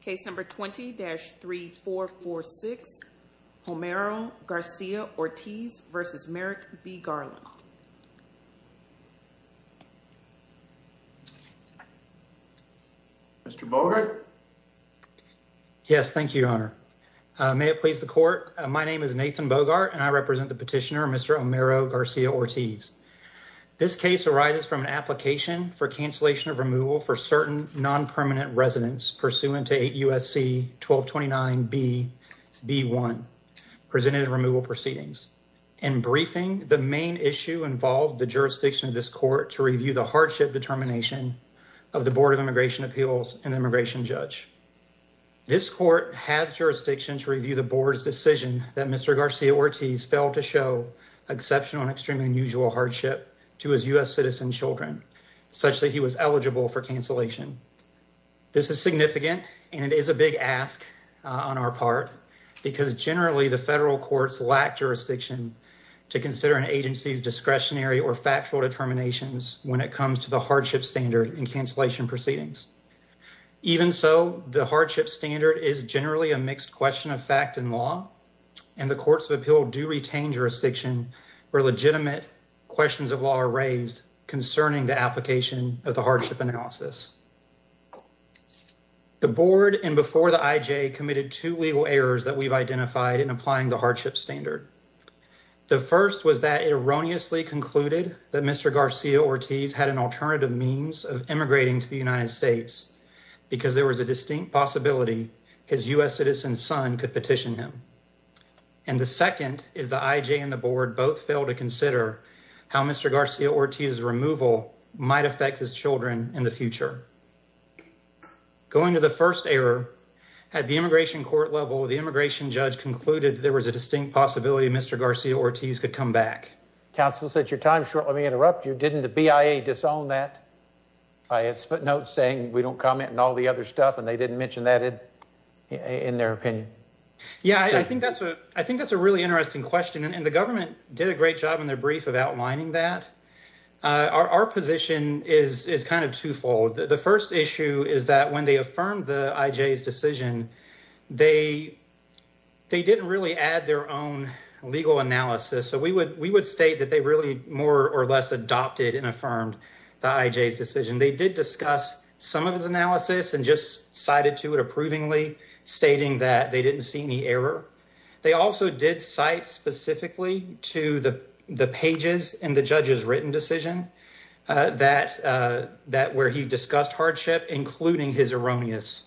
Case number 20-3446 Homero Garcia-Ortiz v. Merrick B. Garland Mr. Bogart? Yes, thank you, Your Honor. May it please the court, my name is Nathan Bogart and I represent the petitioner Mr. Homero Garcia-Ortiz. This case arises from an application for cancellation of removal for certain non-permanent residents pursuant to 8 U.S.C. 1229B.B.1 presented removal proceedings. In briefing, the main issue involved the jurisdiction of this court to review the hardship determination of the Board of Immigration Appeals and immigration judge. This court has jurisdiction to review the board's decision that Mr. Garcia-Ortiz failed to show exceptional and extremely unusual hardship to his U.S. citizen children such that he was eligible for cancellation. This is significant and it is a big ask on our part because generally the federal courts lack jurisdiction to consider an agency's discretionary or factual determinations when it comes to the hardship standard and cancellation proceedings. Even so, the hardship standard is generally a mixed question of fact and law and the courts of appeal do retain jurisdiction where legitimate questions of law are raised concerning the board and before the I.J. committed two legal errors that we've identified in applying the hardship standard. The first was that it erroneously concluded that Mr. Garcia-Ortiz had an alternative means of immigrating to the United States because there was a distinct possibility his U.S. citizen son could petition him. And the second is the I.J. and the board both failed to consider how Mr. Garcia-Ortiz's removal might affect his children in the future. Going to the first error, at the immigration court level, the immigration judge concluded there was a distinct possibility Mr. Garcia-Ortiz could come back. Counsel, since your time is short, let me interrupt you. Didn't the BIA disown that? I had footnotes saying we don't comment on all the other stuff and they didn't mention that in their opinion. Yeah, I think that's a really interesting question and the government did a great job in their brief of outlining that. Our position is kind of twofold. The first issue is that when they affirmed the I.J.'s decision, they didn't really add their own legal analysis. So we would state that they really more or less adopted and affirmed the I.J.'s decision. They did discuss some of his analysis and just cited to it approvingly stating that they didn't see any error. They also did cite specifically to the pages in the judge's written decision where he discussed hardship, including his erroneous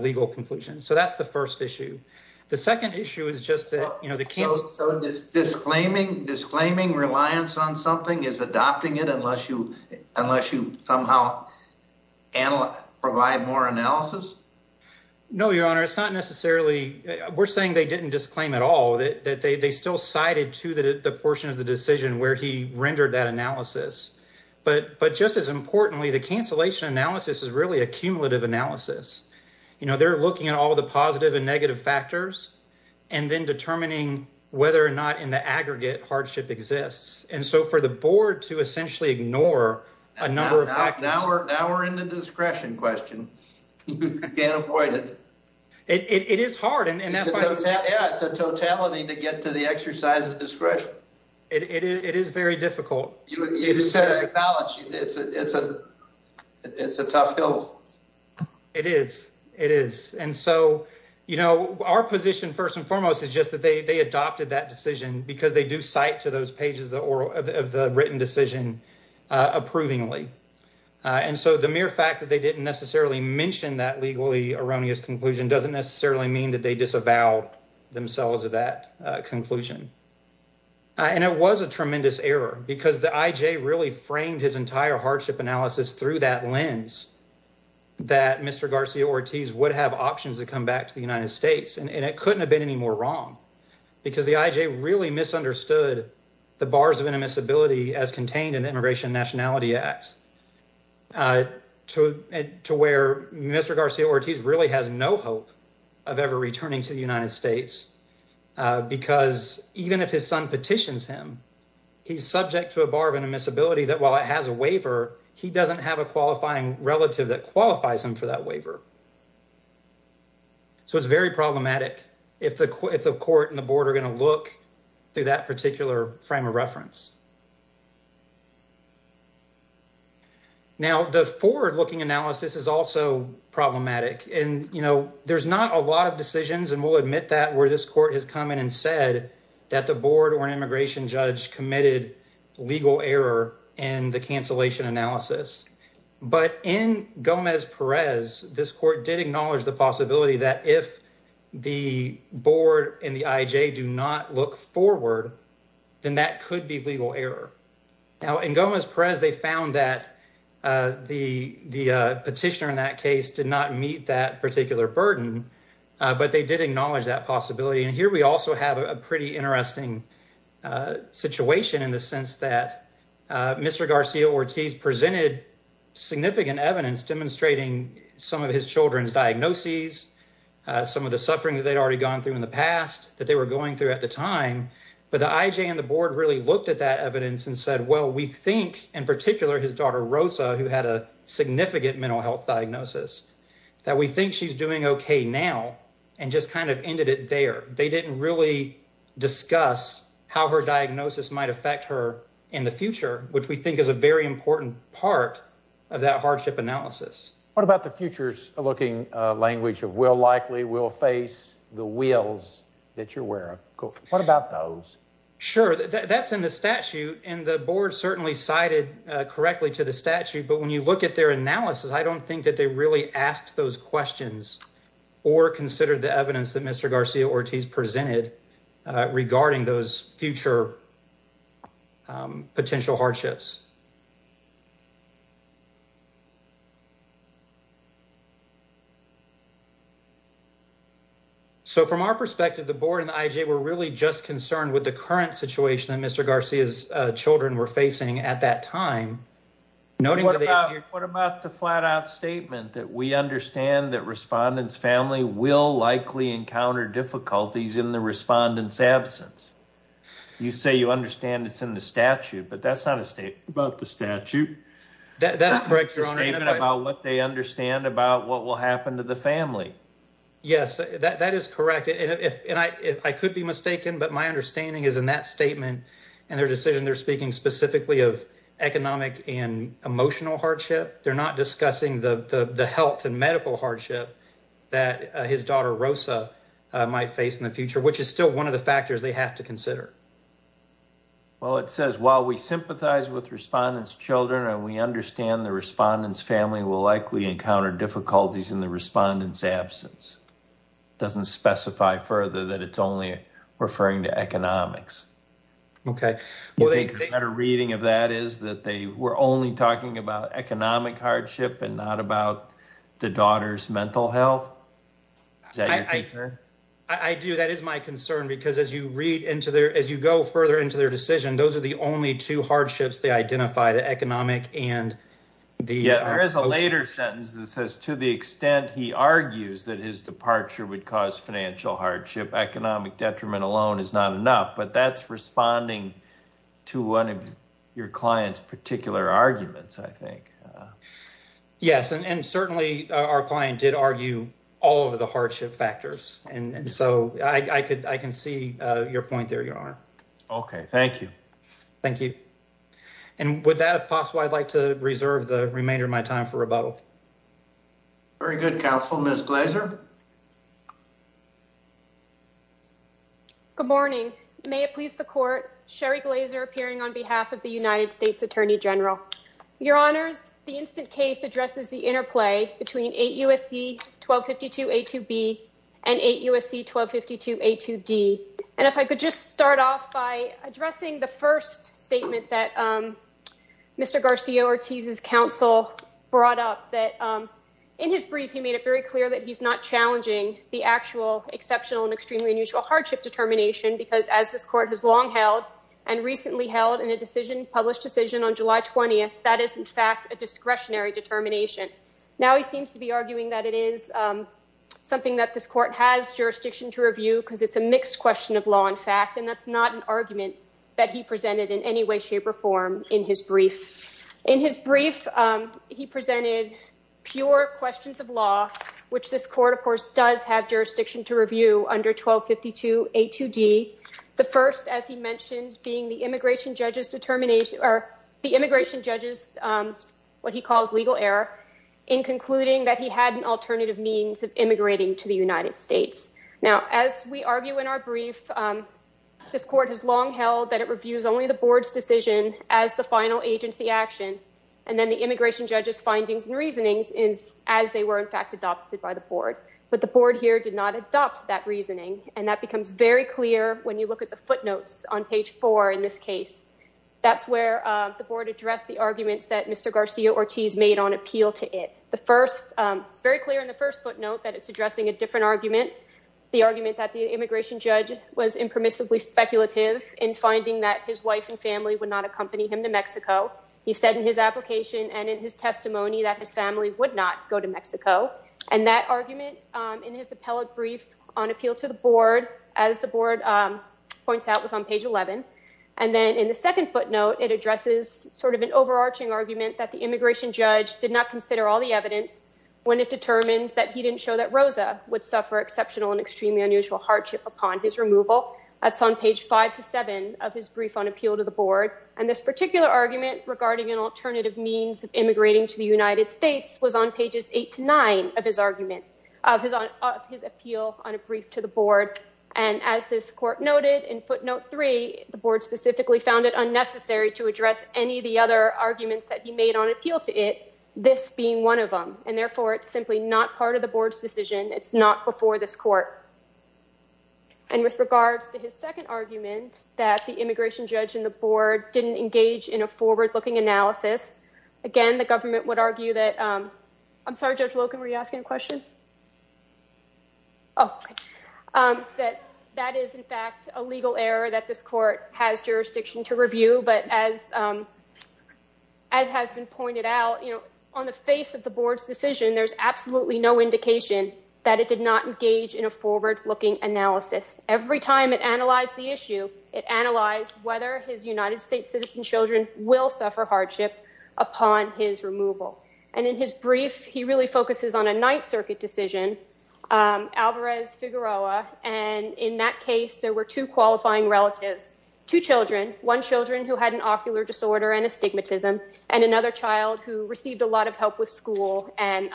legal conclusion. So that's the first issue. The second issue is just that, you know, the kids. So disclaiming reliance on something is adopting it unless you somehow provide more analysis? No, your honor, it's not necessarily. We're saying they didn't disclaim at all that they still cited to the portion of the decision where he rendered that analysis. But just as importantly, the cancellation analysis is really a cumulative analysis. You know, they're looking at all the positive and negative factors and then determining whether or not in the aggregate hardship exists. And so for the board to essentially ignore a number of totality to get to the exercise of discretion, it is very difficult. It's a it's a it's a tough hill. It is. It is. And so, you know, our position, first and foremost, is just that they adopted that decision because they do cite to those pages of the written decision approvingly. And so the mere fact that they didn't necessarily mention that legally erroneous conclusion doesn't necessarily mean that they disavow themselves of that conclusion. And it was a tremendous error because the I.J. really framed his entire hardship analysis through that lens that Mr. Garcia-Ortiz would have options to come back to the United States. And it couldn't have been any more wrong because the I.J. really misunderstood the bars of inadmissibility as contained in the Immigration Nationality Act to where Mr. Garcia-Ortiz really has no hope of ever returning to the United States because even if his son petitions him, he's subject to a bar of inadmissibility that while it has a waiver, he doesn't have a qualifying relative that qualifies him for that waiver. So it's very problematic if the if the court and the board are going to look through that particular frame of reference. Now, the forward-looking analysis is also problematic, and, you know, there's not a lot of decisions, and we'll admit that, where this court has come in and said that the board or an immigration judge committed legal error in the cancellation analysis. But in Gomez-Perez, this court did acknowledge the possibility that if the board and the I.J. do not look forward, then that could be legal error. Now, in Gomez-Perez, they found that the petitioner in that case did not meet that particular burden, but they did acknowledge that possibility. And here we also have a pretty interesting situation in the sense that Mr. Garcia-Ortiz presented significant evidence demonstrating some of his children's diagnoses, some of the suffering that they'd already gone through in the past that they were going through at the time. But the I.J. and the board really looked at that evidence and said, well, we think, in particular, his daughter Rosa, who had a significant mental health diagnosis, that we think she's doing okay now and just kind of ended it there. They didn't really discuss how her diagnosis might affect her in the future, which we think is a very important part of that hardship analysis. What about the futures-looking language of will likely, will face, the wills that you're aware of? What about those? Sure. That's in the statute, and the board certainly cited correctly to the statute. But when you look at their analysis, I don't think that they really asked those questions or considered the evidence that Mr. Garcia-Ortiz presented regarding those future potential hardships. So, from our perspective, the board and the I.J. were really just concerned with the current situation that Mr. Garcia's children were facing at that time. What about the flat-out statement that we understand that respondent's family will likely encounter difficulties in the respondent's absence? You say you understand it's in the statute, but that's not a statement about the statute. That's correct, Your Honor. It's a statement about what they understand about what will happen to the family. Yes, that is correct. And I could be mistaken, but my understanding is in that statement and their decision, they're speaking specifically of economic and emotional hardship. They're not discussing the health and medical hardship that his daughter, Rosa, might face in the future, which is still one of the factors they have to consider. Well, it says, while we sympathize with respondent's children and we understand the respondent's family will likely encounter difficulties in the respondent's absence. It doesn't specify further that it's only referring to economics. Okay. A reading of that is that they were only talking about economic hardship and not about the daughter's mental health. Is that your concern? I do. That is my concern because as you go further into their decision, those are the only two hardships they identify, the economic and the emotional. There is a later sentence that says, to the extent he argues that his departure would cause financial hardship, economic detriment alone is not enough, but that's responding to one of your client's particular arguments, I think. Yes, and certainly our client did argue all of the hardship factors, and so I can see your point there, Your Honor. Okay. Thank you. Thank you. And with that, if possible, I'd like to reserve the remainder of my time for rebuttal. Very good, counsel. Ms. Glazer? Good morning. May it please the court, Sherry Glazer appearing on behalf of the United States Attorney General. Your Honors, the instant case addresses the interplay between 8 U.S.C. 1252 A2B and 8 U.S.C. 1252 A2D. And if I could just start off by addressing the first statement that Mr. Garcia-Ortiz's counsel brought up, that in his brief, he made it very clear that he's not challenging the actual exceptional and extremely unusual hardship determination, because as this Court has long held and recently held in a decision, published decision on July 20th, that is, in fact, a discretionary determination. Now he seems to be arguing that it is something that this Court has jurisdiction to review, because it's a mixed question of law and fact, and that's not an argument that he presented in any way, shape, or form in his brief. In his brief, he presented pure questions of law, which this Court, of course, does have jurisdiction to review under 1252 A2D, the first, as he mentioned, being the immigration judge's determination or the immigration judge's what he calls legal error in concluding that he had an alternative means of immigrating to the United States. Now, as we argue in our brief, this Court has long held that it reviews only the Board's decision as the final agency action, and then the immigration judge's findings and reasonings is as they were, in fact, adopted by the Board. But the Board here did not adopt that reasoning, and that becomes very clear when you look at the footnotes on page 4 in this case. That's where the Board addressed the arguments that Mr. Garcia-Ortiz made on appeal to it. The first, it's very clear in the first footnote that it's addressing a different argument, the argument that the immigration judge was impermissibly speculative in finding that his wife and family would not accompany him to Mexico. He said in his application and in his testimony that his family would not go to Mexico. And that argument in his appellate brief on appeal to the Board, as the Board points out, was on page 11. And then in the second footnote, it addresses sort of an overarching argument that the immigration judge did not consider all the evidence when it determined that he didn't show that Rosa would suffer exceptional and extremely unusual hardship upon his removal. That's on page 5 to 7 of his brief on appeal to the Board. And this particular argument regarding an alternative means of immigrating to the United States was on pages 8 to 9 of his argument, of his appeal on a brief to the Board. And as this Court noted in footnote 3, the Board specifically found it unnecessary to address any of the other arguments that he made on appeal to it, this being one of them. And therefore, it's simply not part of the Board's decision. It's not before this Court. And with regards to his second argument, that the immigration judge and the Board didn't engage in a forward-looking analysis, again, the Government would argue that... I'm sorry, Judge Loken, were you asking a question? Oh, okay. That that is, in fact, a legal error that this Court has jurisdiction to review. But as has been pointed out, on the face of the Board's decision, there's absolutely no indication that it did not engage in a forward-looking analysis. Every time it analyzed the issue, it analyzed whether his United States citizen children will suffer hardship upon his removal. And in his brief, he really focuses on a Ninth Circuit decision, Alvarez-Figueroa. And in that case, there were two qualifying relatives, two children, one children who had an ocular disorder and astigmatism, and another child who received a lot of help with school and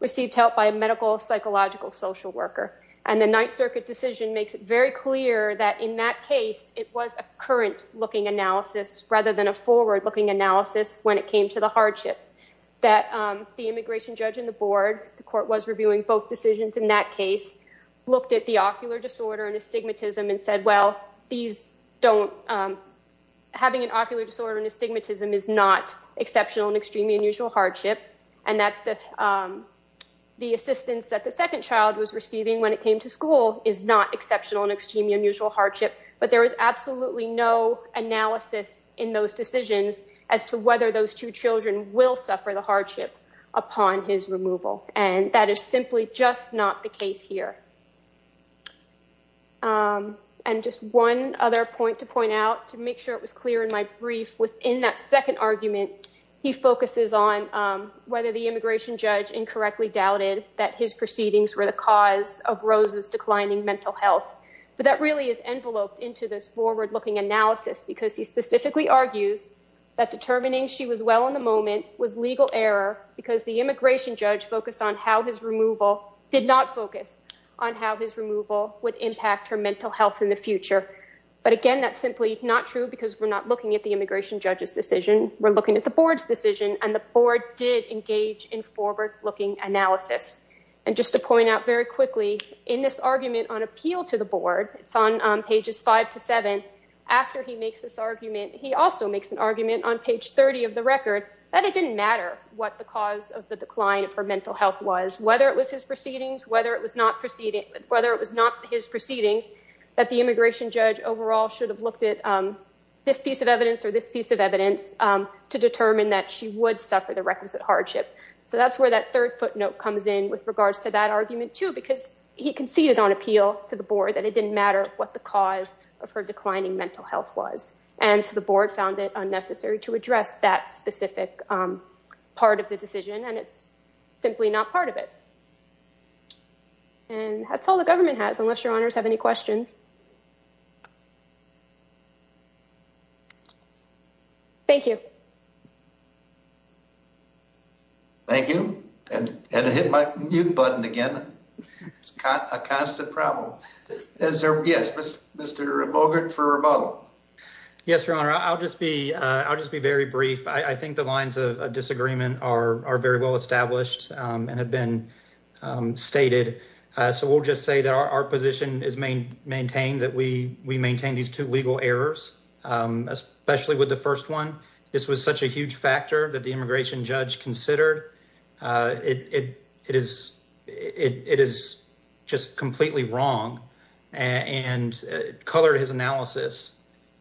received help by a medical, psychological, social worker. And the Ninth Circuit decision makes it very clear that, in that case, it was a current-looking analysis rather than a forward-looking analysis when it came to the hardship. That the immigration judge and the Board, the Court was reviewing both decisions in that case, looked at the ocular disorder and astigmatism and said, well, these don't... having an ocular disorder and astigmatism is not exceptional and extremely unusual hardship. And that the assistance that the second child was receiving when it came to school is not exceptional and extremely unusual hardship. But there was absolutely no analysis in those decisions as to whether those two children will suffer the hardship upon his removal. And that is simply just not the case here. And just one other point to point out, to make sure it was clear in my brief, within that second argument, he focuses on whether the immigration judge incorrectly doubted that his proceedings were the cause of Rose's declining mental health. But that really is enveloped into this forward-looking analysis because he specifically argues that determining she was well in the moment was legal error because the immigration judge focused on how his removal did not focus on the child's on how his removal would impact her mental health in the future. But again, that's simply not true because we're not looking at the immigration judge's decision. We're looking at the Board's decision and the Board did engage in forward-looking analysis. And just to point out very quickly, in this argument on appeal to the Board, it's on pages five to seven, after he makes this argument, he also makes an argument on page 30 of the record that it didn't matter what the cause of decline of her mental health was, whether it was his proceedings, whether it was not his proceedings, that the immigration judge overall should have looked at this piece of evidence or this piece of evidence to determine that she would suffer the requisite hardship. So that's where that third footnote comes in with regards to that argument, too, because he conceded on appeal to the Board that it didn't matter what the cause of her declining mental health was. And so the Board found it unnecessary to address that specific part of the decision, and it's simply not part of it. And that's all the government has, unless your honors have any questions. Thank you. Thank you. And hit my mute button again. It's a constant problem. Yes, Mr. Bogert for rebuttal. Yes, your honor. I'll just be very brief. I think the lines of disagreement are very well established and have been stated. So we'll just say that our position is maintained that we maintain these two legal errors, especially with the first one. This was such a huge factor that immigration judge considered. It is just completely wrong and colored his analysis.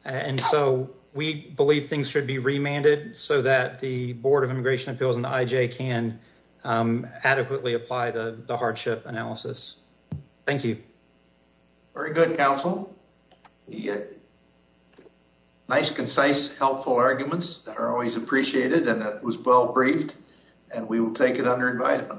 And so we believe things should be remanded so that the Board of Immigration Appeals and the IJ can adequately apply the hardship analysis. Thank you. Very good counsel. Nice, concise, helpful arguments that are always appreciated and that was well briefed. And we will take it under invitement.